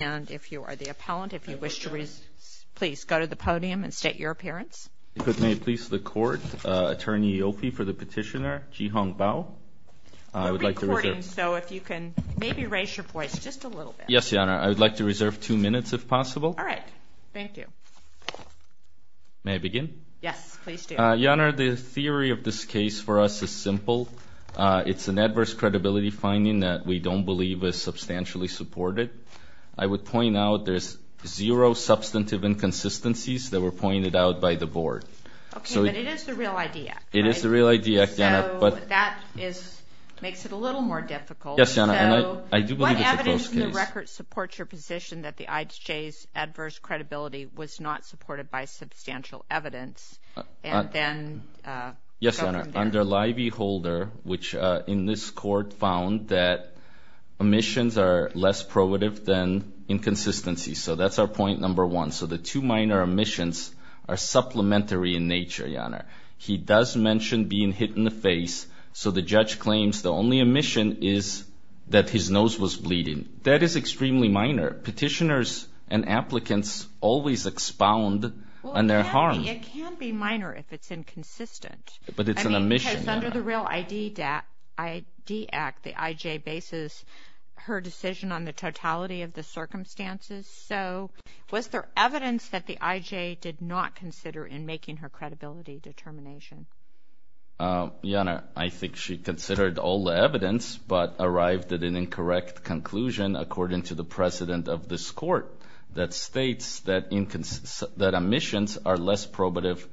and if you are the appellant, if you wish to please go to the podium and state your appearance. If it may please the court, Attorney Yofi for the petitioner, Jihong Bao. We're recording, so if you can maybe raise your voice just a little bit. Yes, Your Honor. I would like to reserve two minutes if possible. All right. Thank you. May I begin? Yes, please do. Your Honor, the theory of this case for us is simple. It's an adverse credibility finding that we don't believe is substantially supported. I would point out there's zero substantive inconsistencies that were pointed out by the board. Okay, but it is the Real ID Act. It is the Real ID Act, Your Honor. So that makes it a little more difficult. Yes, Your Honor. So what evidence in the record supports your position that the IHJ's adverse credibility was not supported by substantial evidence? Yes, Your Honor. Under Lievey Holder, which in this court found that omissions are less probative than inconsistencies. So that's our point number one. So the two minor omissions are supplementary in nature, Your Honor. He does mention being hit in the face, so the judge claims the only omission is that his nose was bleeding. That is extremely minor. Petitioners and applicants always expound on their harm. I mean, it can be minor if it's inconsistent. But it's an omission, Your Honor. I mean, because under the Real ID Act, the IJ bases her decision on the totality of the circumstances. So was there evidence that the IJ did not consider in making her credibility determination? Your Honor, I think she considered all the evidence but arrived at an incorrect conclusion, according to the president of this court, that states that omissions are less probative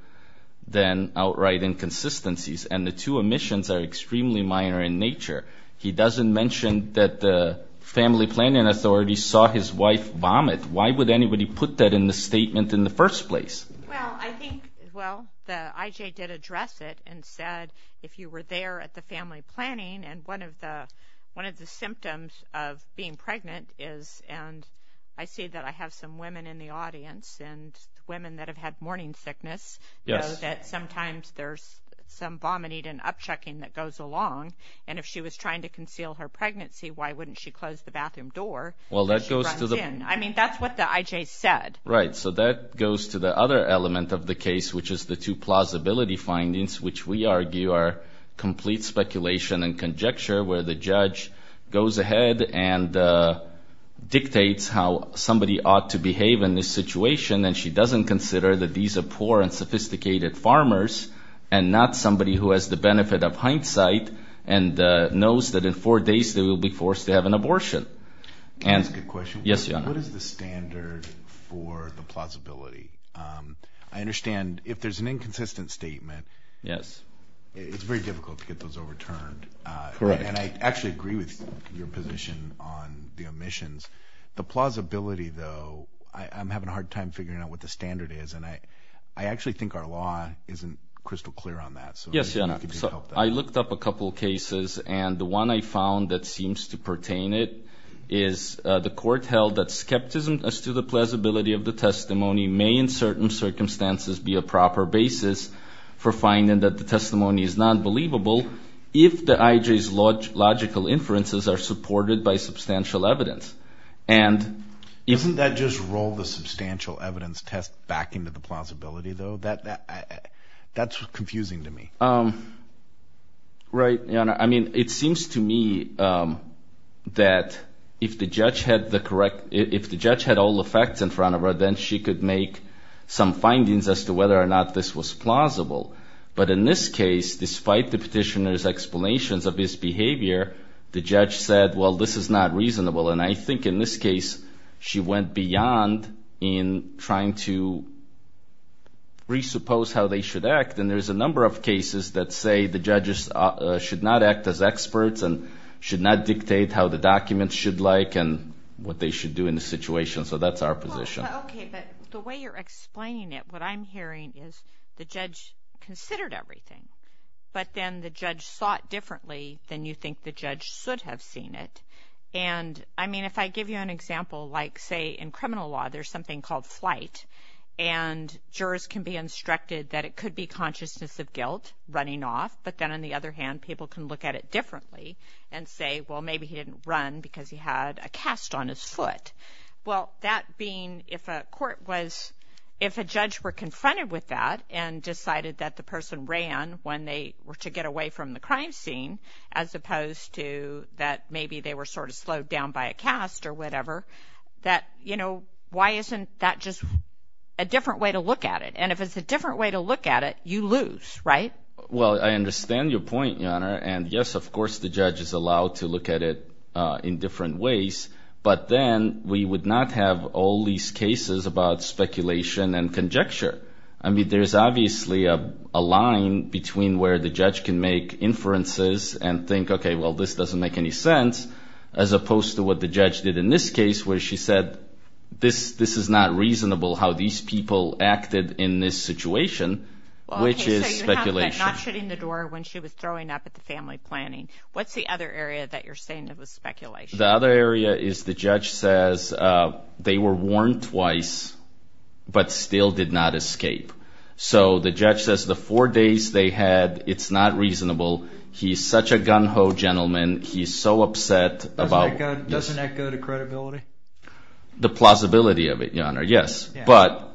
than outright inconsistencies. And the two omissions are extremely minor in nature. He doesn't mention that the family planning authority saw his wife vomit. Why would anybody put that in the statement in the first place? Well, I think the IJ did address it and said if you were there at the family planning and one of the symptoms of being pregnant is, and I see that I have some women in the audience, and women that have had morning sickness know that sometimes there's some vomiting and upchucking that goes along. And if she was trying to conceal her pregnancy, why wouldn't she close the bathroom door as she runs in? I mean, that's what the IJ said. Right. So that goes to the other element of the case, which is the two plausibility findings, which we argue are complete speculation and conjecture, where the judge goes ahead and dictates how somebody ought to behave in this situation, and she doesn't consider that these are poor and sophisticated farmers and not somebody who has the benefit of hindsight and knows that in four days they will be forced to have an abortion. Can I ask a question? Yes, Your Honor. What is the standard for the plausibility? I understand if there's an inconsistent statement, it's very difficult to get those overturned. Correct. And I actually agree with your position on the omissions. The plausibility, though, I'm having a hard time figuring out what the standard is, and I actually think our law isn't crystal clear on that. Yes, Your Honor. So I looked up a couple cases, and the one I found that seems to pertain it is the court held that skepticism as to the plausibility of the testimony may in certain circumstances be a proper basis for finding that the testimony is not believable if the IJ's logical inferences are supported by substantial evidence. Isn't that just roll the substantial evidence test back into the plausibility, though? That's confusing to me. Right. Your Honor, I mean, it seems to me that if the judge had all the facts in front of her, then she could make some findings as to whether or not this was plausible. But in this case, despite the petitioner's explanations of his behavior, the judge said, well, this is not reasonable. And I think in this case she went beyond in trying to re-suppose how they should act, and there's a number of cases that say the judges should not act as experts and should not dictate how the documents should look and what they should do in the situation. So that's our position. Okay, but the way you're explaining it, what I'm hearing is the judge considered everything, but then the judge sought differently than you think the judge should have seen it. And, I mean, if I give you an example, like, say, in criminal law there's something called flight, and jurors can be instructed that it could be consciousness of guilt, running off, but then on the other hand people can look at it differently and say, well, maybe he didn't run because he had a cast on his foot. Well, that being, if a court was, if a judge were confronted with that and decided that the person ran when they were to get away from the crime scene, as opposed to that maybe they were sort of slowed down by a cast or whatever, that, you know, why isn't that just a different way to look at it? And if it's a different way to look at it, you lose, right? Well, I understand your point, Your Honor. And, yes, of course the judge is allowed to look at it in different ways, but then we would not have all these cases about speculation and conjecture. I mean, there's obviously a line between where the judge can make inferences and think, okay, well, this doesn't make any sense, as opposed to what the judge did in this case where she said this is not reasonable how these people acted in this situation, which is speculation. Okay, so you have that not shutting the door when she was throwing up at the family planning. What's the other area that you're saying that was speculation? The other area is the judge says they were warned twice but still did not escape. So the judge says the four days they had, it's not reasonable. He's such a gung-ho gentleman. He's so upset about it. Doesn't that go to credibility? The plausibility of it, Your Honor, yes. But,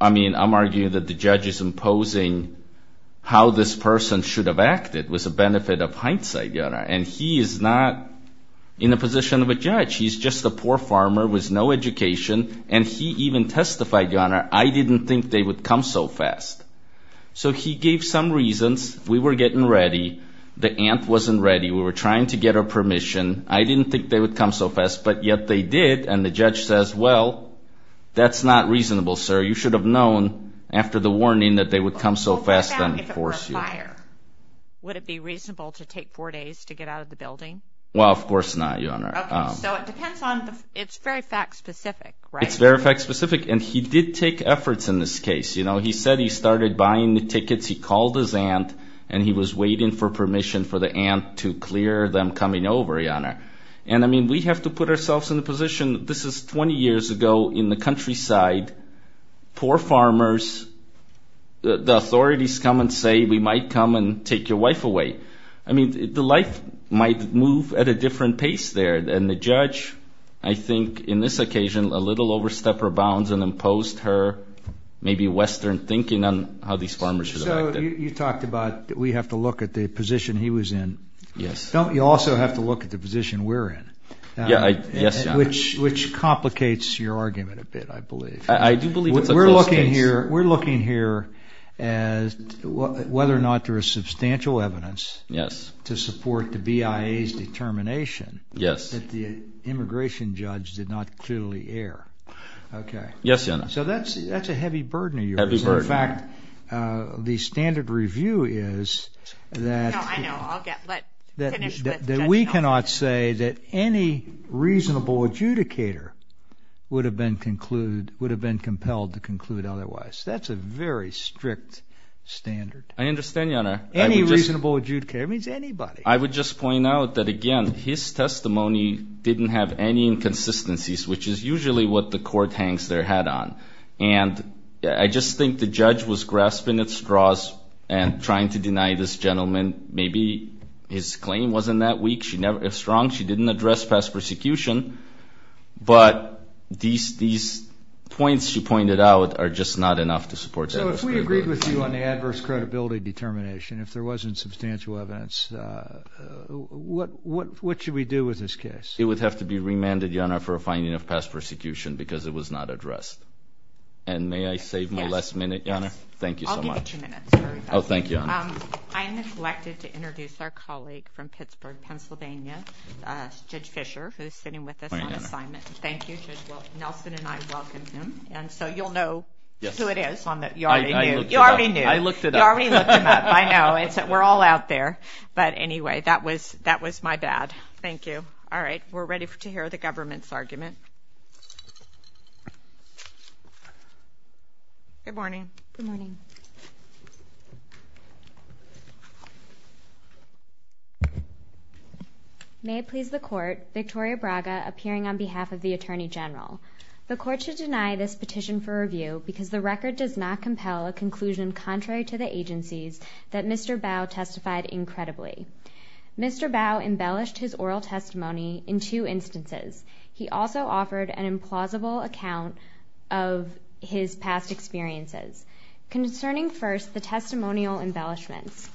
I mean, I'm arguing that the judge is imposing how this person should have acted was a benefit of hindsight, Your Honor, and he is not in the position of a judge. He's just a poor farmer with no education, and he even testified, Your Honor, I didn't think they would come so fast. So he gave some reasons. We were getting ready. The ant wasn't ready. We were trying to get her permission. I didn't think they would come so fast, but yet they did, and the judge says, well, that's not reasonable, sir. You should have known after the warning that they would come so fast and force you. Would it be reasonable to take four days to get out of the building? Well, of course not, Your Honor. Okay, so it depends on, it's very fact-specific, right? It's very fact-specific, and he did take efforts in this case. You know, he said he started buying the tickets. He called his ant, and he was waiting for permission for the ant to clear them coming over, Your Honor. And, I mean, we have to put ourselves in the position, this is 20 years ago in the countryside, poor farmers, the authorities come and say we might come and take your wife away. I mean, the life might move at a different pace there, and the judge, I think, in this occasion, a little overstepped her bounds and imposed her maybe Western thinking on how these farmers should have acted. So you talked about we have to look at the position he was in. Yes. You also have to look at the position we're in. Yes, Your Honor. Which complicates your argument a bit, I believe. We're looking here as whether or not there is substantial evidence to support the BIA's determination that the immigration judge did not clearly err. Okay. Yes, Your Honor. So that's a heavy burden of yours. Heavy burden. In fact, the standard review is that we cannot say that any reasonable adjudicator would have been compelled to conclude otherwise. That's a very strict standard. I understand, Your Honor. Any reasonable adjudicator. It means anybody. I would just point out that, again, his testimony didn't have any inconsistencies, which is usually what the court hangs their hat on. And I just think the judge was grasping at straws and trying to deny this gentleman maybe his claim wasn't that weak. She never is strong. She didn't address past persecution. But these points she pointed out are just not enough to support that. So if we agreed with you on the adverse credibility determination, if there wasn't substantial evidence, what should we do with this case? It would have to be remanded, Your Honor, for a finding of past persecution because it was not addressed. And may I save my last minute, Your Honor? Yes. Thank you so much. I'll give you two minutes. Oh, thank you, Your Honor. I neglected to introduce our colleague from Pittsburgh, Pennsylvania, Judge Fisher, who is sitting with us on assignment. Thank you, Judge. Well, Nelson and I welcomed him, and so you'll know who it is. You already knew. I looked it up. You already looked him up. I know. We're all out there. But, anyway, that was my bad. Thank you. All right. We're ready to hear the government's argument. Good morning. Good morning. May it please the Court, Victoria Braga, appearing on behalf of the Attorney General. The Court should deny this petition for review because the record does not compel a conclusion contrary to the agencies that Mr. Bowe testified incredibly. Mr. Bowe embellished his oral testimony in two instances. He also offered an implausible account of his past experiences. Concerning first the testimonial embellishments,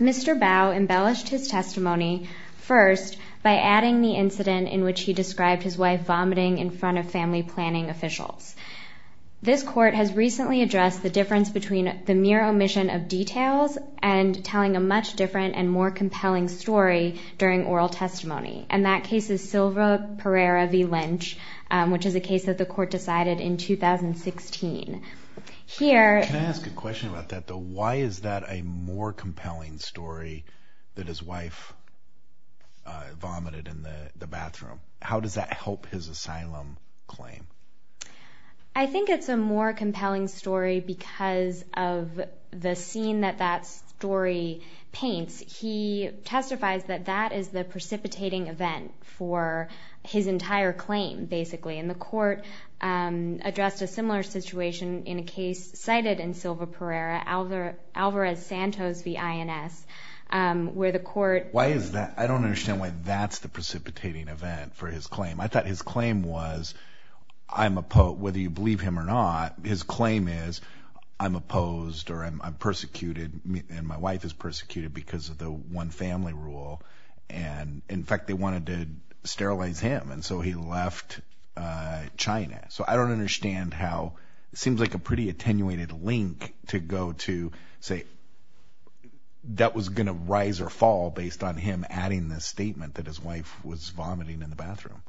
Mr. Bowe embellished his testimony first by adding the incident in which he described his wife vomiting in front of family planning officials. This Court has recently addressed the difference between the mere omission of details and telling a much different and more compelling story during oral testimony. And that case is Silva Pereira v. Lynch, which is a case that the Court decided in 2016. Can I ask a question about that, though? Why is that a more compelling story that his wife vomited in the bathroom? How does that help his asylum claim? I think it's a more compelling story because of the scene that that story paints. He testifies that that is the precipitating event for his entire claim, basically. And the Court addressed a similar situation in a case cited in Silva Pereira, Alvarez-Santos v. INS, where the Court… Why is that? I don't understand why that's the precipitating event for his claim. I thought his claim was, whether you believe him or not, his claim is, I'm opposed or I'm persecuted, and my wife is persecuted because of the one-family rule. And, in fact, they wanted to sterilize him, and so he left China. So I don't understand how it seems like a pretty attenuated link to go to say that was going to rise or fall based on him adding this statement that his wife was vomiting in the bathroom.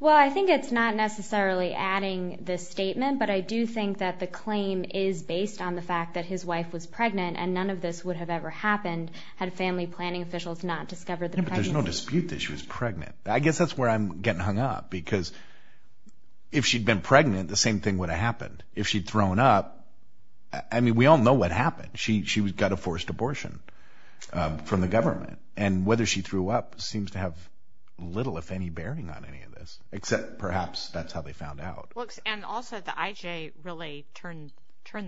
Well, I think it's not necessarily adding this statement, but I do think that the claim is based on the fact that his wife was pregnant, and none of this would have ever happened had family planning officials not discovered the pregnancy. But there's no dispute that she was pregnant. I guess that's where I'm getting hung up, because if she'd been pregnant, the same thing would have happened. If she'd thrown up, I mean, we all know what happened. She got a forced abortion from the government, and whether she threw up seems to have little, if any, bearing on any of this, except perhaps that's how they found out. And also the IJ really turned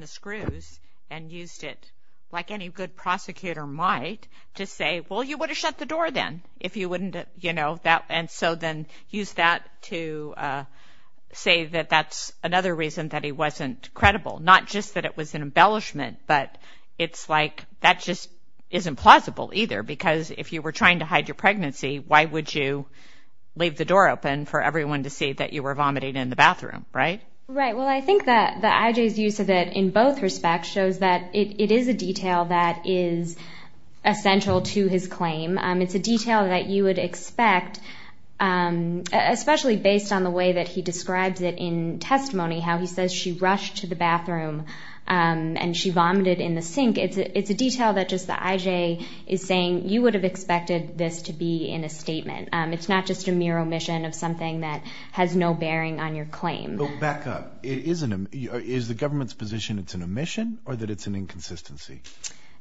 the screws and used it, like any good prosecutor might, to say, well, you would have shut the door then if you wouldn't, you know, and so then used that to say that that's another reason that he wasn't credible. Not just that it was an embellishment, but it's like that just isn't plausible either, because if you were trying to hide your pregnancy, why would you leave the door open for everyone to see that you were vomiting in the bathroom, right? Right. Well, I think that the IJ's use of it in both respects shows that it is a detail that is essential to his claim. It's a detail that you would expect, especially based on the way that he describes it in testimony, how he says she rushed to the bathroom and she vomited in the sink. It's a detail that just the IJ is saying you would have expected this to be in a statement. It's not just a mere omission of something that has no bearing on your claim. But back up. Is the government's position it's an omission or that it's an inconsistency?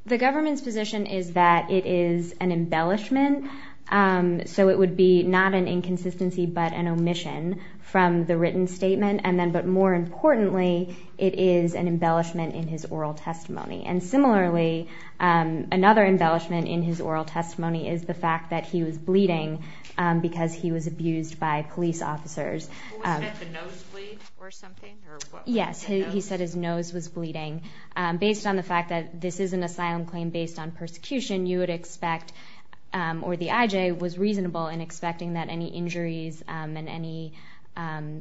The government's position is that it is an embellishment. So it would be not an inconsistency, but an omission from the written statement. And then, but more importantly, it is an embellishment in his oral testimony. And similarly, another embellishment in his oral testimony is the fact that he was bleeding because he was abused by police officers. Was it at the nose bleed or something? Yes. He said his nose was bleeding. Based on the fact that this is an asylum claim based on persecution, you would expect, or the IJ was reasonable in expecting that any injuries and any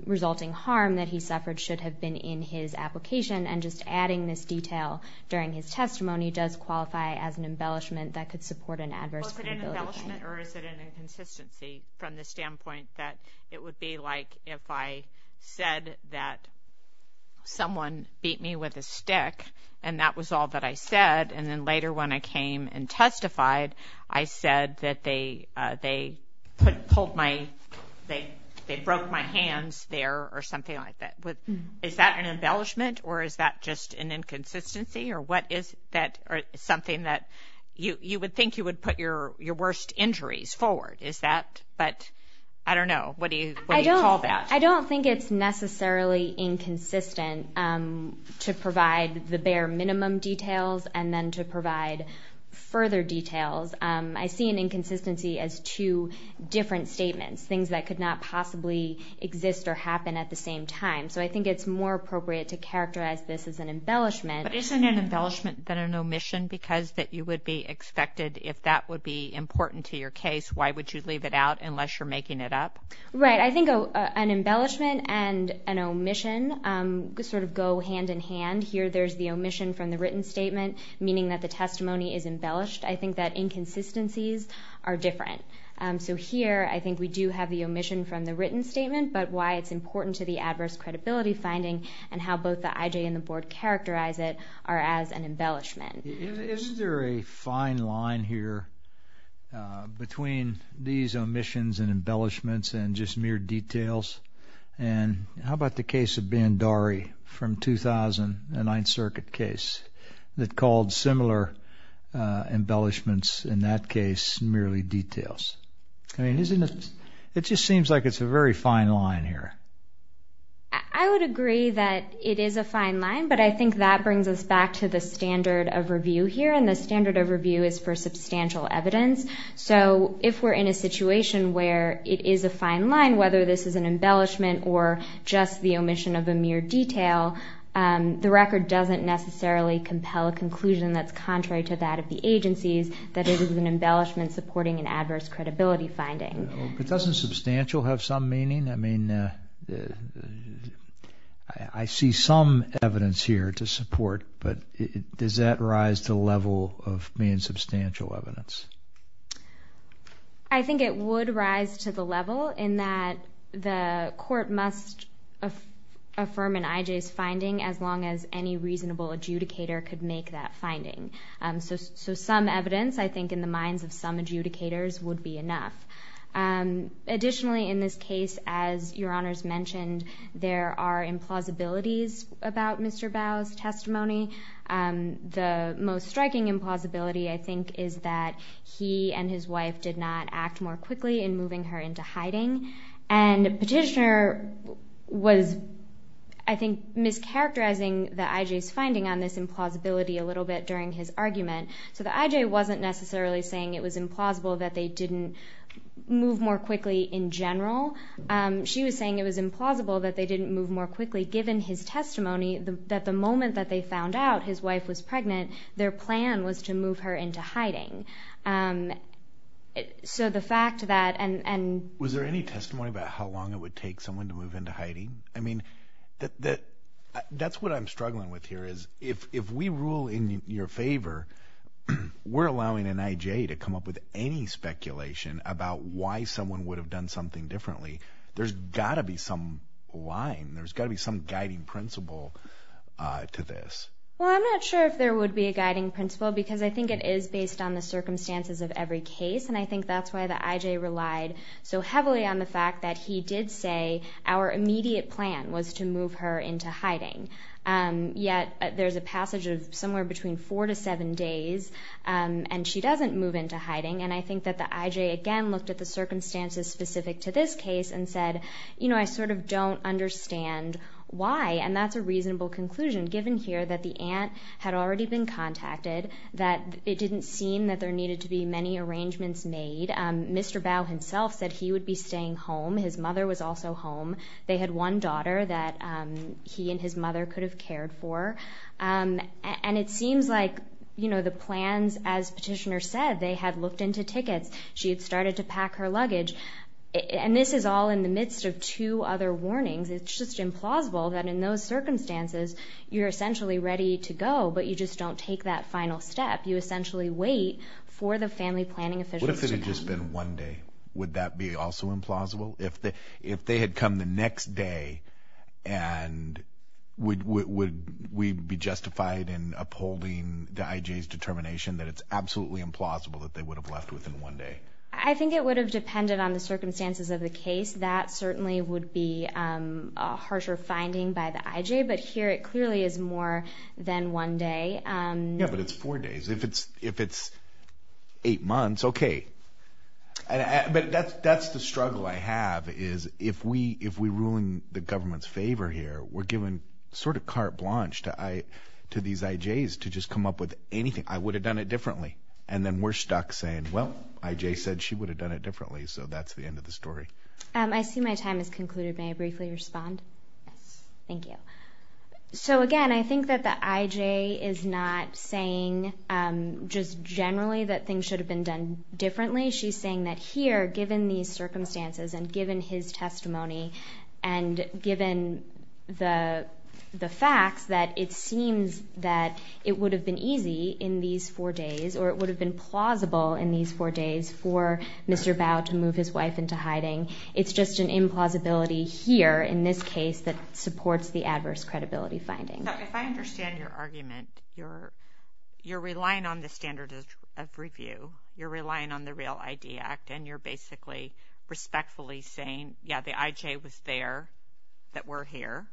resulting harm that he suffered should have been in his application. And just adding this detail during his testimony does qualify as an embellishment that could support an adverse credibility claim. Is it an embellishment or is it an inconsistency from the standpoint that it would be like if I said that someone beat me with a stick and that was all that I said and then later when I came and testified, I said that they pulled my, they broke my hands there or something like that. Is that an embellishment or is that just an inconsistency or what is that something that you would think you would put your worst injuries forward? Is that, but I don't know, what do you call that? I don't think it's necessarily inconsistent to provide the bare minimum details and then to provide further details. I see an inconsistency as two different statements, things that could not possibly exist or happen at the same time. So I think it's more appropriate to characterize this as an embellishment. But isn't an embellishment than an omission because that you would be expected, if that would be important to your case, why would you leave it out unless you're making it up? Right, I think an embellishment and an omission sort of go hand in hand. Here there's the omission from the written statement, meaning that the testimony is embellished. I think that inconsistencies are different. So here I think we do have the omission from the written statement, but why it's important to the adverse credibility finding and how both the IJ and the board characterize it are as an embellishment. Isn't there a fine line here between these omissions and embellishments and just mere details? And how about the case of Bandari from 2000, the Ninth Circuit case, that called similar embellishments in that case merely details? I mean, it just seems like it's a very fine line here. I would agree that it is a fine line, but I think that brings us back to the standard of review here, and the standard of review is for substantial evidence. So if we're in a situation where it is a fine line, whether this is an embellishment or just the omission of a mere detail, the record doesn't necessarily compel a conclusion that's contrary to that of the agencies, that it is an embellishment supporting an adverse credibility finding. But doesn't substantial have some meaning? I mean, I see some evidence here to support, but does that rise to the level of being substantial evidence? I think it would rise to the level in that the court must affirm an IJ's finding as long as any reasonable adjudicator could make that finding. So some evidence, I think, in the minds of some adjudicators would be enough. Additionally, in this case, as Your Honors mentioned, there are implausibilities about Mr. Bowe's testimony. The most striking implausibility, I think, is that he and his wife did not act more quickly in moving her into hiding, and Petitioner was, I think, mischaracterizing the IJ's finding on this implausibility a little bit during his argument. So the IJ wasn't necessarily saying it was implausible that they didn't move more quickly in general. She was saying it was implausible that they didn't move more quickly, given his testimony that the moment that they found out his wife was pregnant, their plan was to move her into hiding. So the fact that— Was there any testimony about how long it would take someone to move into hiding? I mean, that's what I'm struggling with here is if we rule in your favor, we're allowing an IJ to come up with any speculation about why someone would have done something differently. There's got to be some line. There's got to be some guiding principle to this. Well, I'm not sure if there would be a guiding principle, because I think it is based on the circumstances of every case, and I think that's why the IJ relied so heavily on the fact that he did say our immediate plan was to move her into hiding. Yet there's a passage of somewhere between four to seven days, and she doesn't move into hiding. And I think that the IJ, again, looked at the circumstances specific to this case and said, you know, I sort of don't understand why. And that's a reasonable conclusion, given here that the aunt had already been contacted, that it didn't seem that there needed to be many arrangements made. Mr. Bao himself said he would be staying home. His mother was also home. They had one daughter that he and his mother could have cared for. And it seems like, you know, the plans, as Petitioner said, they had looked into tickets. She had started to pack her luggage. And this is all in the midst of two other warnings. It's just implausible that in those circumstances you're essentially ready to go, but you just don't take that final step. You essentially wait for the family planning officials to come. What if it had just been one day? Would that be also implausible? If they had come the next day, and would we be justified in upholding the IJ's determination that it's absolutely implausible that they would have left within one day? I think it would have depended on the circumstances of the case. That certainly would be a harsher finding by the IJ. But here it clearly is more than one day. Yeah, but it's four days. If it's eight months, okay. But that's the struggle I have, is if we ruin the government's favor here, we're giving sort of carte blanche to these IJs to just come up with anything. I would have done it differently. And then we're stuck saying, well, IJ said she would have done it differently. So that's the end of the story. I see my time has concluded. May I briefly respond? Yes. Thank you. So, again, I think that the IJ is not saying just generally that things should have been done differently. She's saying that here, given these circumstances and given his testimony and given the facts that it seems that it would have been easy in these four days or it would have been plausible in these four days for Mr. Bao to move his wife into hiding. It's just an implausibility here in this case that supports the adverse credibility finding. If I understand your argument, you're relying on the standard of review. You're relying on the REAL ID Act, and you're basically respectfully saying, yeah, the IJ was there, that we're here.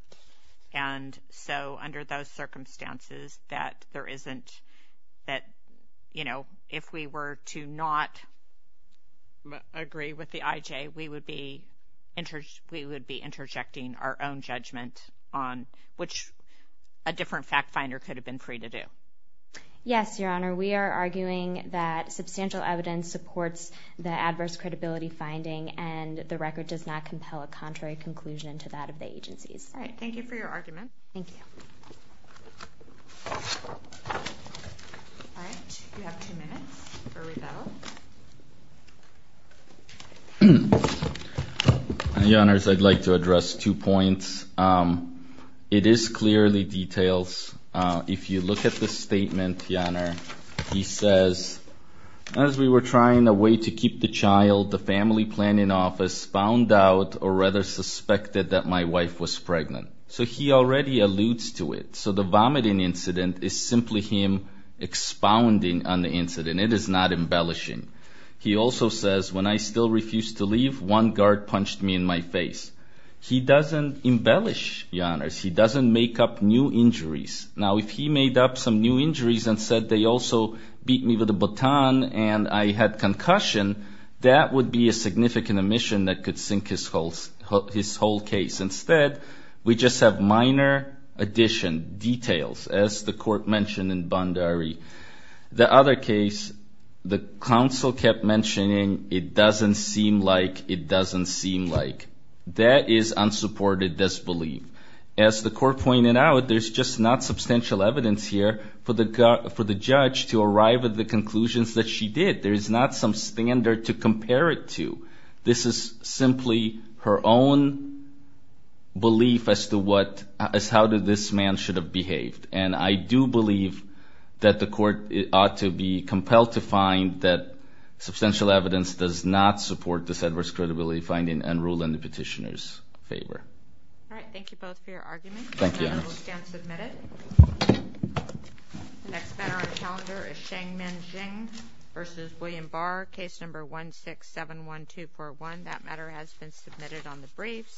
And so under those circumstances that there isn't that, you know, if we were to not agree with the IJ, we would be interjecting our own judgment, which a different fact finder could have been free to do. Yes, Your Honor. We are arguing that substantial evidence supports the adverse credibility finding and the record does not compel a contrary conclusion to that of the agencies. All right. Thank you for your argument. Thank you. All right. You have two minutes for rebuttal. Your Honors, I'd like to address two points. It is clearly detailed. If you look at the statement, Your Honor, he says, as we were trying a way to keep the child, the family planning office found out or rather suspected that my wife was pregnant. So he already alludes to it. So the vomiting incident is simply him expounding on the incident. It is not embellishing. He also says, when I still refused to leave, one guard punched me in my face. He doesn't embellish, Your Honors. He doesn't make up new injuries. Now, if he made up some new injuries and said they also beat me with a baton and I had concussion, that would be a significant omission that could sink his whole case. Instead, we just have minor addition, details, as the court mentioned in Bandari. The other case, the counsel kept mentioning, it doesn't seem like, it doesn't seem like. That is unsupported disbelief. As the court pointed out, there's just not substantial evidence here for the judge to arrive at the conclusions that she did. There is not some standard to compare it to. This is simply her own belief as to how this man should have behaved. And I do believe that the court ought to be compelled to find that substantial evidence does not support this adverse credibility finding and rule in the petitioner's favor. All right, thank you both for your argument. Thank you, Your Honors. The amendment will stand submitted. The next matter on the calendar is Shang Min Xing v. William Barr, case number 1671241. That matter has been submitted on the briefs.